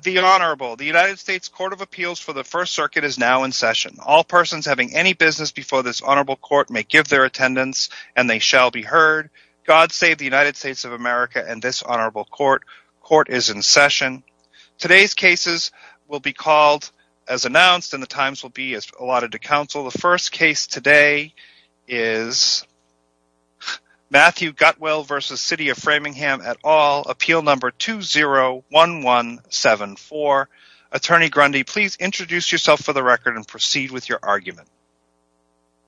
The Honourable, the United States Court of Appeals for the First Circuit is now in session. All persons having any business before this Honourable Court may give their attendance and they shall be heard. God save the United States of America and this Honourable Court. Court is in session. Today's cases will be called as announced and the times will be allotted to Council. The first case today is Matthew Gutwill v. City of Framingham et al. Appeal No. 201174. Attorney Grundy, please introduce yourself for the record and proceed with your argument.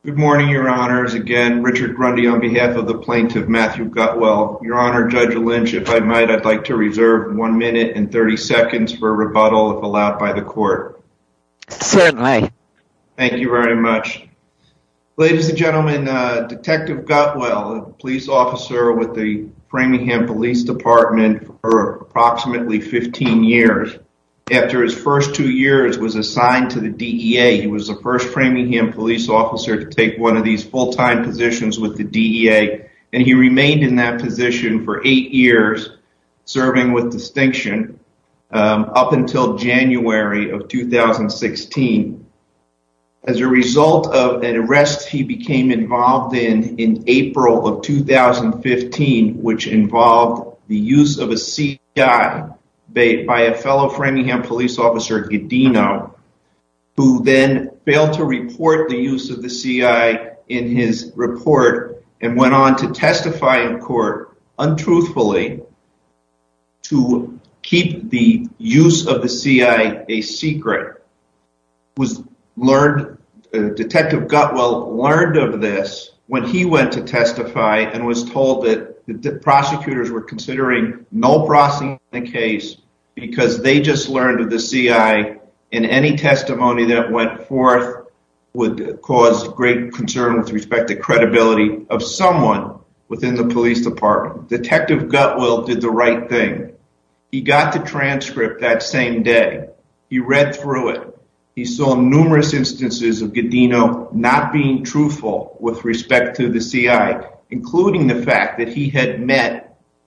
Good morning, Your Honours. Again, Richard Grundy on behalf of the plaintiff, Matthew Gutwill. Your Honour, Judge Lynch, if I might, I'd like to reserve one minute and 30 seconds for rebuttal if allowed by the Court. Certainly. Thank you very much. Ladies and gentlemen, Detective Gutwill, a police officer with the Framingham Police Department for approximately 15 years. After his first two years was assigned to the DEA, he was the first Framingham police officer to take one of these full-time positions with the DEA and he remained in that position for eight years, serving with distinction up until January of 2016. As a result of an arrest he became involved in in April of 2015, which involved the use of a C.I. by a fellow Framingham police officer, Gedino, who then failed to report the use of the C.I. in his report and went on to testify in court, untruthfully, to keep the use of the C.I. in his report. Detective Gutwill learned of this when he went to testify and was told that the prosecutors were considering no processing the case because they just learned of the C.I. in any testimony that went forth would cause great concern with respect to credibility of someone within the police department. Detective Gutwill did the right thing. He got the transcript that same day. He read through it. He saw numerous instances of Gedino not being truthful with respect to the C.I., including the fact that he had met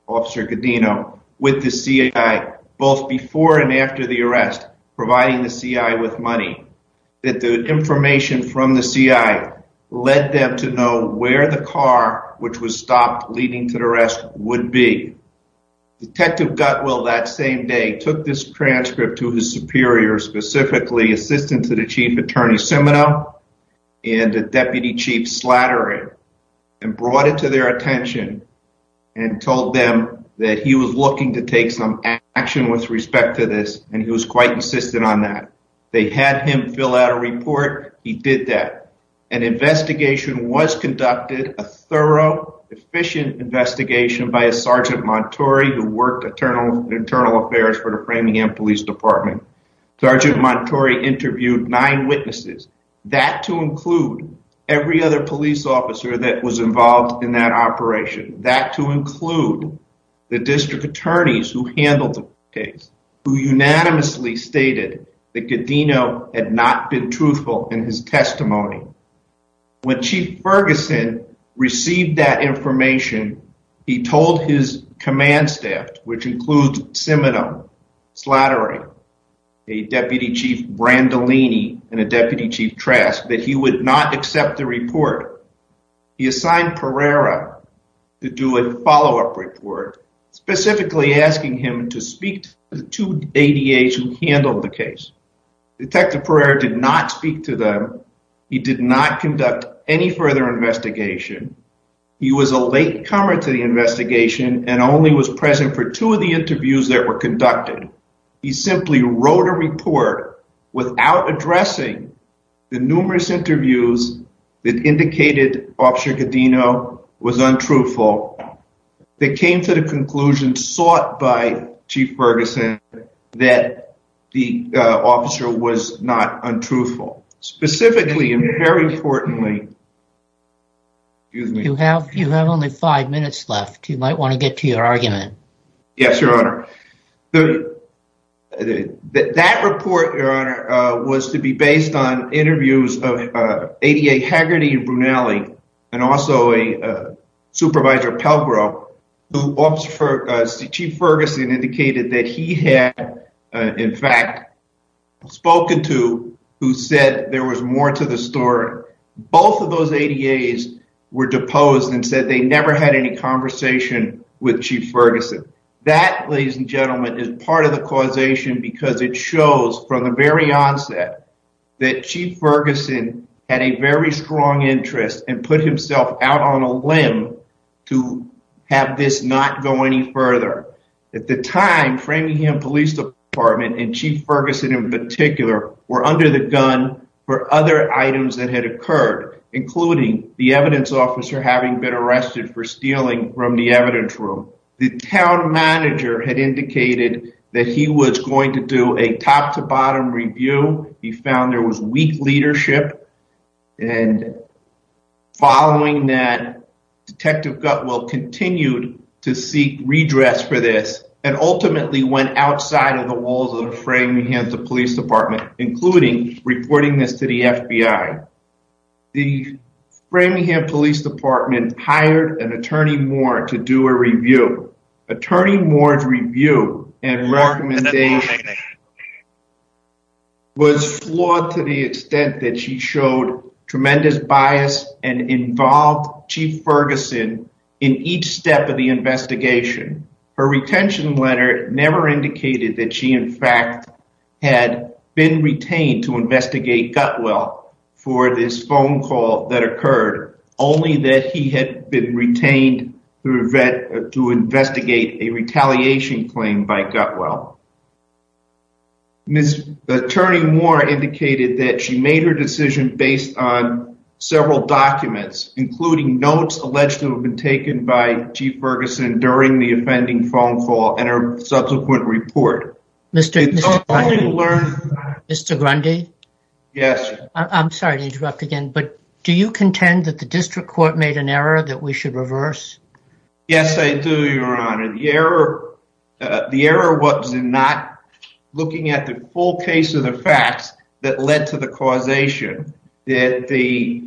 Officer Gedino with the C.I. both before and after the arrest, providing the C.I. with money, that the information from the C.I. led them to know where the car, which was stopped leading to the arrest, would be. Detective Gutwill, that same day, took this transcript to his superior, specifically Assistant to the Chief Attorney Semino and the Deputy Chief Slattery, and brought it to their attention and told them that he was looking to take some action with respect to this, and he was quite insistent on that. They had him fill out a report. He did that. An investigation was conducted, a thorough, efficient investigation by a Sergeant Montori who worked in Internal Affairs for the Framingham Police Department. Sergeant Montori interviewed nine witnesses, that to include every other police officer that was involved in that operation, that to include the district attorneys who handled the case, who unanimously stated that Gedino had not been truthful in his testimony. When Chief Ferguson received that information, he told his command staff, which includes Semino, Slattery, a Deputy Chief Brandolini, and a Deputy Chief Trask, that he would not accept the report. He assigned Pereira to do a follow-up report, specifically asking him to speak to the two ADAs who handled the case. Detective Pereira did not speak to them. He did not conduct any further investigation. He was a late comer to the investigation and only was present for two of the interviews that were conducted. He simply wrote a report without addressing the numerous interviews that indicated Officer Gedino was untruthful, that came to the conclusion sought by Chief Ferguson that the officer was not untruthful. Specifically, and very importantly, excuse me. You have only five minutes left. You might want to get to your argument. Yes, Your Honor. That report, Your Honor, was to be based on interviews of ADA Hagerty and Brunelli and also a supervisor, Pelgro, who Chief Ferguson indicated that he had, in fact, spoken to who said there was more to the story. Both of those ADAs were deposed and said they never had any conversation with Chief Ferguson. That, ladies and gentlemen, is part of the causation because it shows from the very onset that Chief Ferguson had a very strong interest and put himself out on a limb to have this not go any further. At the time, Framingham Police Department and Chief Ferguson in particular were under the gun for other items that had occurred, including the evidence officer having been arrested for stealing from the evidence room. The town manager had indicated that he was going to do a top-to-bottom review. He found there was weak leadership, and following that, Detective Gutwell continued to seek redress for this and ultimately went outside of the walls of Framingham Police Department, including reporting this to the FBI. The Framingham Police Department hired an attorney more to do a review. Attorney Moore's review and recommendation was flawed to the extent that she showed tremendous bias and involved Chief Ferguson in each step of the investigation. Her retention letter never indicated that she, in fact, had been retained to investigate Gutwell for this phone call that occurred, only that he had been retained to investigate a retaliation claim by Gutwell. Ms. Attorney Moore indicated that she made her decision based on several documents, including notes allegedly taken by Chief Ferguson during the offending phone call and her subsequent report. Mr. Grundy, I'm sorry to interrupt again, but do you contend that the district court made an error that we should reverse? Yes, I do, Your Honor. The error was in not looking at the full case of the facts that led to the causation. The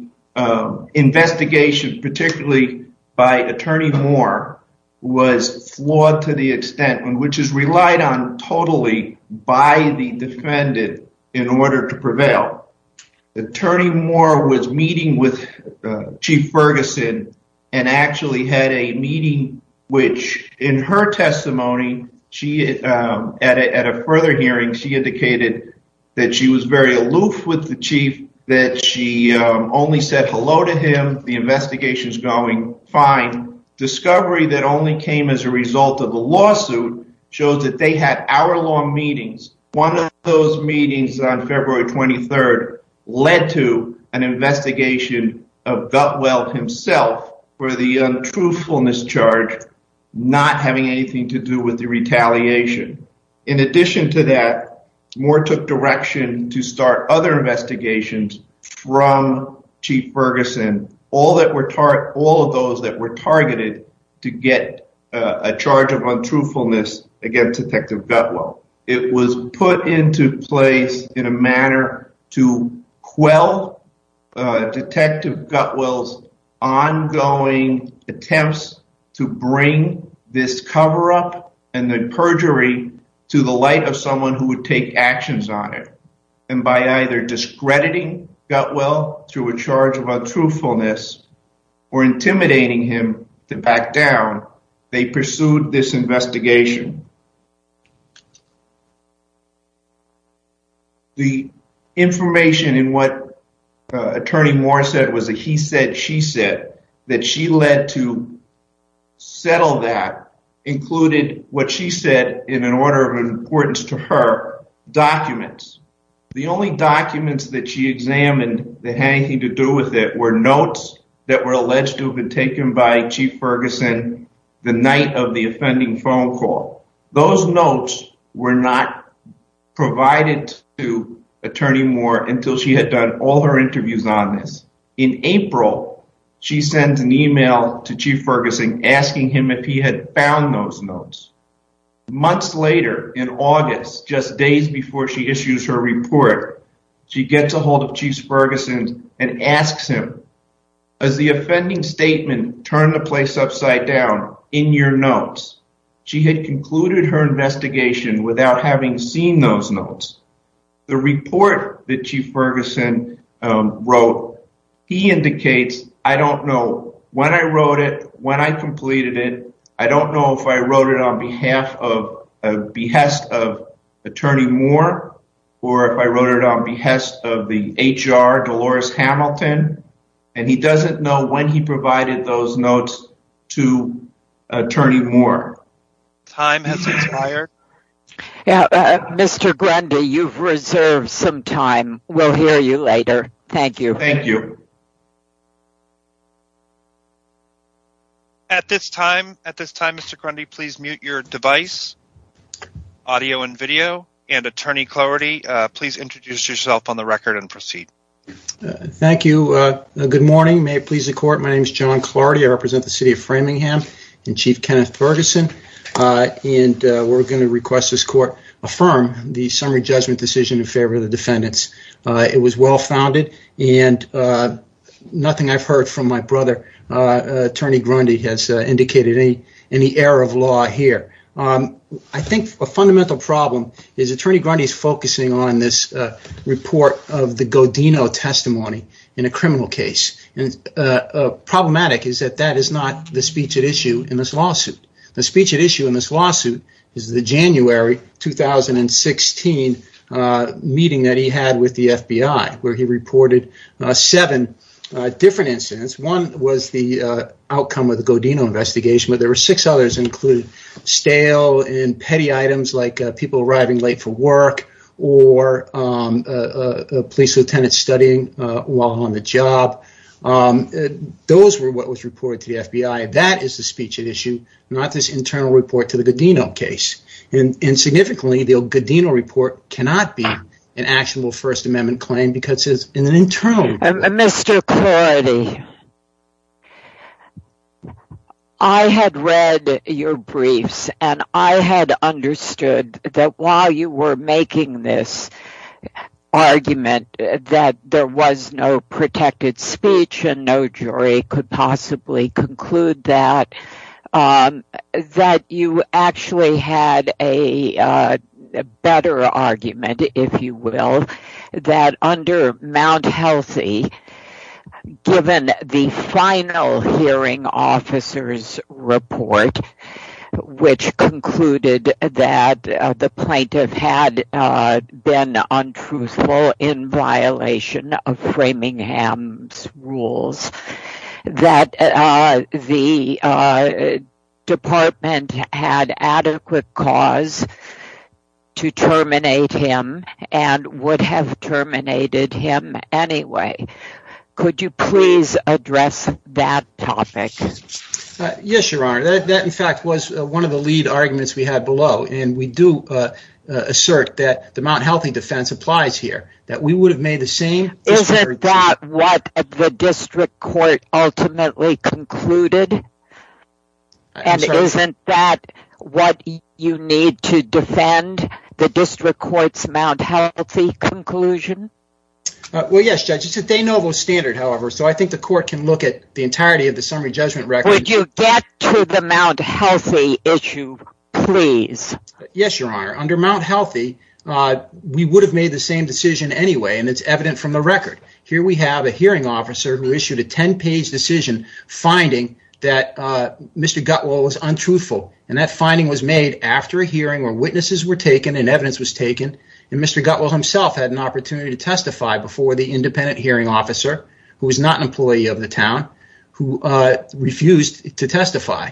investigation, particularly by Attorney Moore, was flawed to the extent, which is relied on totally by the defendant in order to prevail. Attorney Moore was meeting with Chief Ferguson and actually had a meeting, which in her testimony, at a further hearing, she indicated that she was very aloof with the chief, that she only said hello to him, the investigation's going fine. Discovery that only came as a result of the lawsuit showed that they had hour-long meetings. One of those meetings on February 23rd led to an investigation of Gutwell himself for the untruthfulness charge, not having anything to do with the retaliation. In addition to that, Moore took direction to start other investigations from Chief Ferguson. All of those that were targeted to get a charge of untruthfulness against Detective Gutwell. It was put into place in a manner to quell Detective Gutwell's ongoing attempts to bring this cover-up and the perjury to the light of someone who would take actions on it. By either discrediting Gutwell through a charge of untruthfulness or intimidating him to back down, they pursued this investigation. The information in what Attorney Moore said was a he-said-she-said, that she led to settle that, included what she said in an order of importance to her, documents. The only documents that she examined that had anything to do with it were notes that were alleged to have been taken by Chief Ferguson the night of the offending phone call. Those notes were not provided to Attorney Moore until she had done all her interviews on this. In April, she sends an email to Chief Ferguson asking him if he had found those notes. Months later, in August, just days before she issues her report, she gets a hold of Chief Ferguson and asks him, has the offending statement turned the place upside down in your notes? She had concluded her investigation without having seen those notes. The report that Chief Ferguson wrote, he indicates, I don't know when I wrote it, when I completed it. I don't know if I wrote it on behest of Attorney Moore or if I wrote it on behest of the HR, Dolores Hamilton, and he doesn't know when he provided those notes to Attorney Moore. Time has expired. Yeah, Mr. Grundy, you've reserved some time. We'll hear you later. Thank you. At this time, Mr. Grundy, please mute your device. Audio and video. And Attorney Clardy, please introduce yourself on the record and proceed. Thank you. Good morning. May it please the court. My name is John Clardy. I represent the city of Framingham and Chief Kenneth Ferguson. And we're going to request this court affirm the summary judgment decision in favor of the defendants. It was well founded and nothing I've heard from my brother, Attorney Grundy, has indicated any error of law here. I think a fundamental problem is Attorney Grundy is focusing on this report of the Godino testimony in a criminal case. And problematic is that that is not the speech at issue in this lawsuit. The speech at issue in this lawsuit is the January 2016 meeting that he had with the FBI, where he reported seven different incidents. One was the outcome of the Godino investigation, but there were six others included stale and petty items like people arriving late for work or a police lieutenant studying while on the job. Those were what was reported to the FBI. That is the speech at issue, not this internal report to the Godino case. And significantly, the Godino report cannot be an actionable First Amendment claim because it's an internal report. Mr. Clardy, I had read your briefs and I had understood that while you were making this argument that there was no protected speech and no jury could possibly conclude that, that you actually had a better argument, if you will, that under Mount Healthy, given the final hearing officer's report, which concluded that the plaintiff had been untruthful in violation of Framingham's rules, that the department had adequate cause to terminate him and would have terminated him anyway. Could you please address that topic? Yes, Your Honor. That, in fact, was one of the lead arguments we had below, and we do assert that the Mount Healthy defense applies here, that we would have made the same. Isn't that what the district court ultimately concluded? And isn't that what you need to defend, the district court's Mount Healthy conclusion? Well, yes, Judge. They know those standards, however, so I think the court can look at the entirety of the summary judgment record. Could you get to the Mount Healthy issue, please? Yes, Your Honor. Under Mount Healthy, we would have made the same decision anyway, and it's evident from the record. Here we have a hearing officer who issued a 10-page decision finding that Mr. Gutwell was untruthful, and that finding was made after a hearing where witnesses were taken and evidence was taken, and Mr. Gutwell himself had an opportunity to testify before the independent hearing officer, who was not an employee of the town, who refused to testify.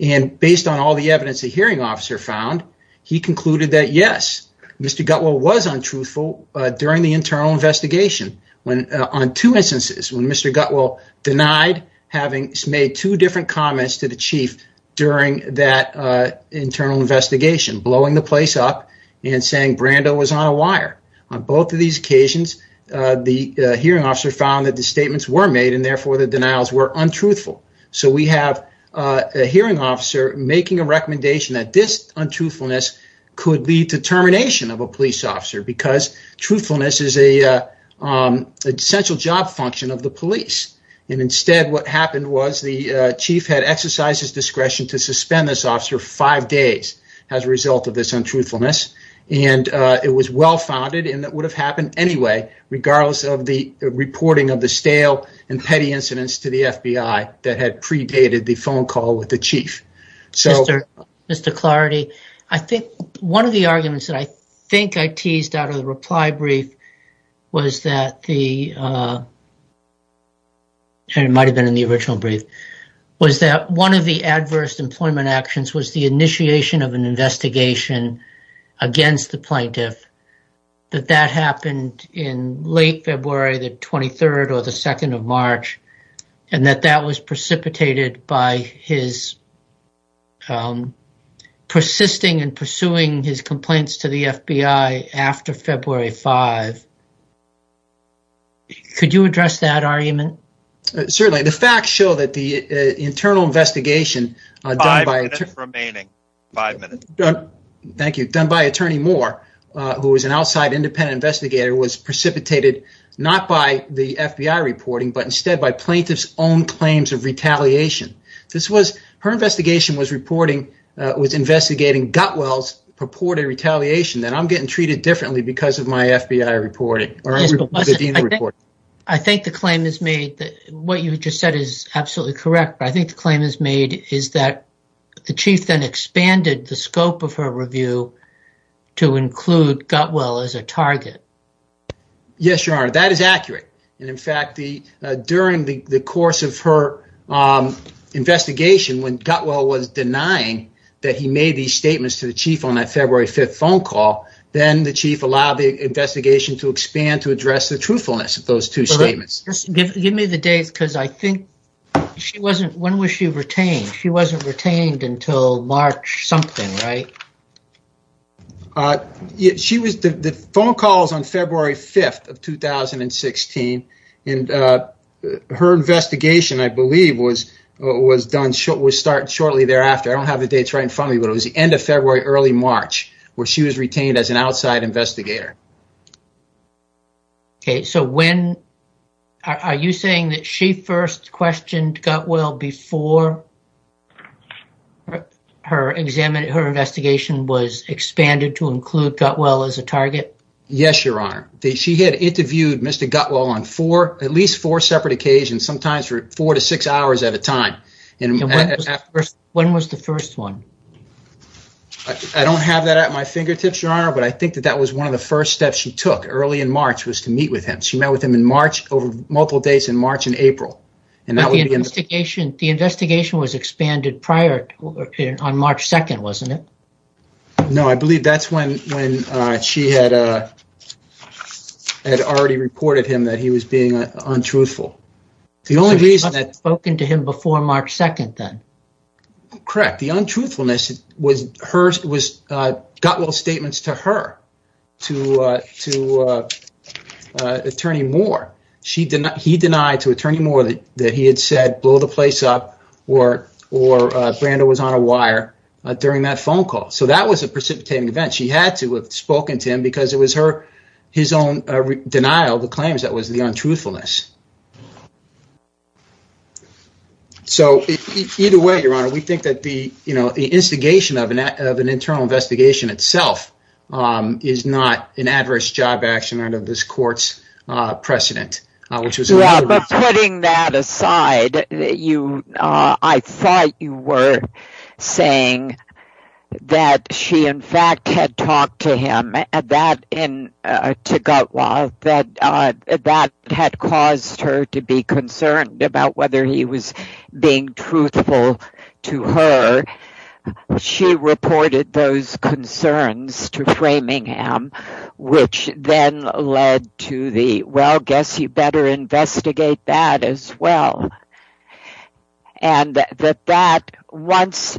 And based on all the evidence the hearing officer found, he concluded that, yes, Mr. Gutwell was untruthful during the internal investigation on two instances, when Mr. Gutwell denied having made two different comments to the chief during that internal investigation, blowing the place up and saying Brando was on a wire. On both of these occasions, the hearing officer found that the statements were made and, therefore, the denials were untruthful. So we have a hearing officer making a recommendation that this untruthfulness could lead to termination of a police officer because truthfulness is an essential job function of the police, and instead what happened was the chief had exercised his discretion to suspend this untruthfulness, and it was well-founded and it would have happened anyway, regardless of the reporting of the stale and petty incidents to the FBI that had predated the phone call with the chief. Mr. Clardy, one of the arguments that I think I teased out of the reply brief was that one of the against the plaintiff, that that happened in late February, the 23rd or the 2nd of March, and that that was precipitated by his persisting and pursuing his complaints to the FBI after February 5. Could you address that argument? Certainly. The facts show that the internal done by attorney Moore, who was an outside independent investigator, was precipitated not by the FBI reporting, but instead by plaintiff's own claims of retaliation. Her investigation was investigating Gutwell's purported retaliation that I'm getting treated differently because of my FBI reporting. I think the claim is made that what you just said is absolutely correct. I think the claim is made is that the chief then expanded the scope of her review to include Gutwell as a target. Yes, your honor, that is accurate. In fact, during the course of her investigation, when Gutwell was denying that he made these statements to the chief on that February 5th phone call, then the chief allowed the investigation to expand to address the truthfulness of those two statements. Give me the dates because I think she wasn't, when was she retained? She wasn't retained until March something, right? She was, the phone calls on February 5th of 2016, and her investigation, I believe, was done, was started shortly thereafter. I don't have the dates right in front of me, but it was the end of February, early March, where she was retained as an outside investigator. Okay, so when, are you saying that she first questioned Gutwell before her examination, her investigation was expanded to include Gutwell as a target? Yes, your honor. She had interviewed Mr. Gutwell on four, at least four separate occasions, sometimes for four to six hours at a time. When was the first one? I don't have that at my fingertips, your honor, but I think that that was one of the first steps she took early in March, was to meet with him. She met with him in March, over multiple days in March and April. The investigation was expanded prior, on March 2nd, wasn't it? No, I believe that's when she had already reported him that he was being untruthful. The only reason that... She must have spoken to him before March 2nd, then. Correct. The untruthfulness was Gutwell's statements to her, to Attorney Moore. He denied to Attorney Moore that he had said, blow the place up or Brando was on a wire during that phone call. So that was a precipitating event. She had to have spoken to him because it was his own denial of the claims that was the untruthfulness. So either way, your honor, we think that the instigation of an internal investigation itself is not an adverse job action under this court's precedent, which was... Yeah, but putting that aside, I thought you were saying that she, in fact, had talked to him and to Gutwell that that had caused her to be concerned about whether he was being truthful to her. She reported those concerns to Framingham, which then led to the, well, guess you better investigate that as well. And that once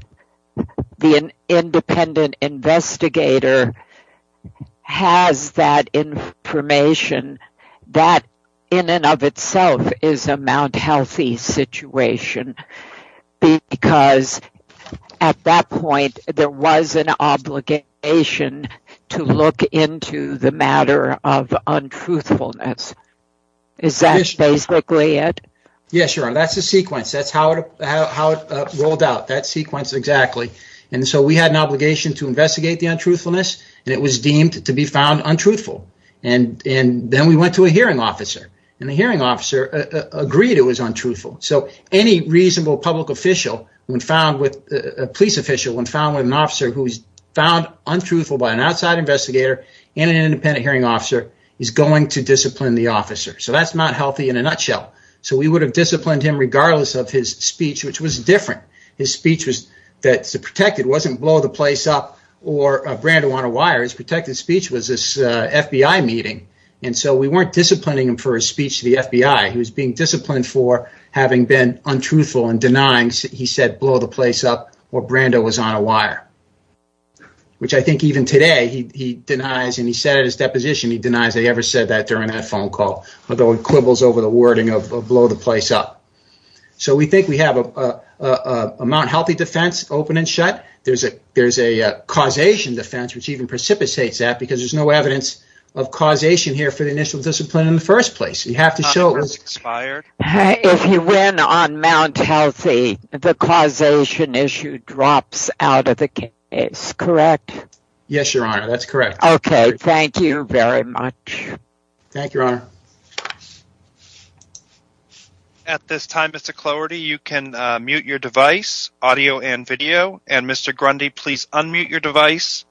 the independent investigator has that information, that in and of itself is a Mount Healthy situation because at that point, there was an obligation to look into the matter of untruthfulness. Is that basically it? Yes, your honor. That's the sequence. That's how it rolled out, that sequence exactly. And so we had an obligation to investigate the untruthfulness and it was deemed to be found untruthful. And then we went to a hearing officer and the hearing officer agreed it was untruthful. So any reasonable police official when found with an officer who's found untruthful by an outside investigator and an independent hearing officer is going to discipline the officer. So that's Mount Healthy in a nutshell. So we would have disciplined him regardless of his speech, which was different. His speech that's protected wasn't blow the place up or Brando on a wire. His protected speech was this FBI meeting. And so we weren't disciplining him for his speech to the FBI. He was being disciplined for having been untruthful and denying he said blow the place up or Brando was on a wire, which I think even today he denies. And he said at his deposition, he denies they ever said that during that phone call, although he quibbles over the wording of blow the place up. So we think we have a Mount Healthy defense open and shut. There's a there's a causation defense, which even precipitates that because there's no evidence of causation here for the initial discipline in the first place. You have to show it was expired. If you win on Mount Healthy, the causation issue drops out of the case, correct? Yes, Your Honor, that's correct. Okay, thank you very much. Thank you, Your Honor. At this time, Mr. Clowerty, you can mute your device, audio and video. And Mr. Grundy, please unmute your device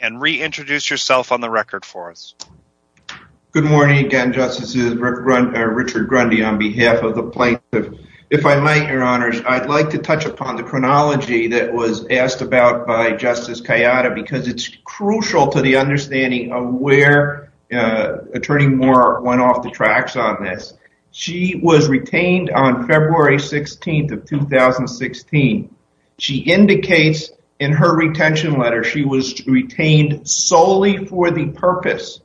and reintroduce yourself on the record for us. Good morning again, Justices Richard Grundy on behalf of the plaintiff. If I might, Your Honors, I'd like to touch upon the chronology that was asked about by Justice Kayada because it's crucial to the understanding of where Attorney Moore went off the tracks on this. She was retained on February 16th of 2016. She indicates in her retention letter, she was retained solely for the purpose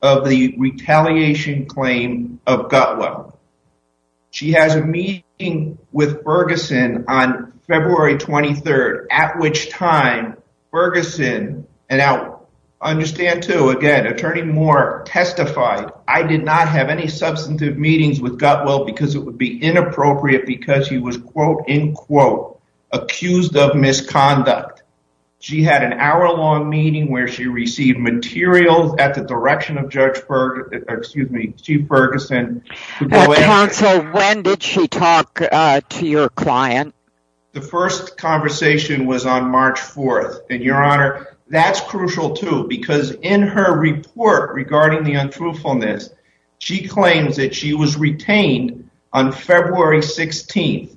of the retaliation claim of Gutwell. She has a meeting with Ferguson on February 23rd, at which time Ferguson, and I understand too, again, substantive meetings with Gutwell because it would be inappropriate because he was, quote, end quote, accused of misconduct. She had an hour long meeting where she received materials at the direction of Judge Ferguson, excuse me, Chief Ferguson. Counsel, when did she talk to your client? The first conversation was on March 4th. And Your Honor, that's crucial too, because in her report regarding the untruthfulness, she claims that she was retained on February 16th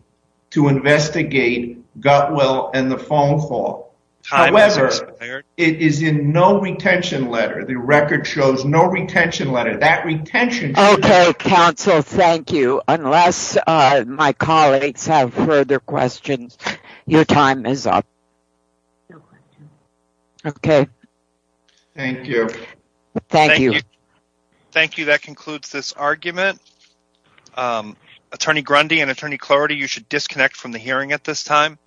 to investigate Gutwell and the phone call. However, it is in no retention letter. The record shows no retention letter. That retention- Okay, Counsel, thank you. Unless my colleagues have further questions, your time is up. Okay. Thank you. Thank you. Thank you. That concludes this argument. Attorney Grundy and Attorney Clarity, you should disconnect from the hearing at this time.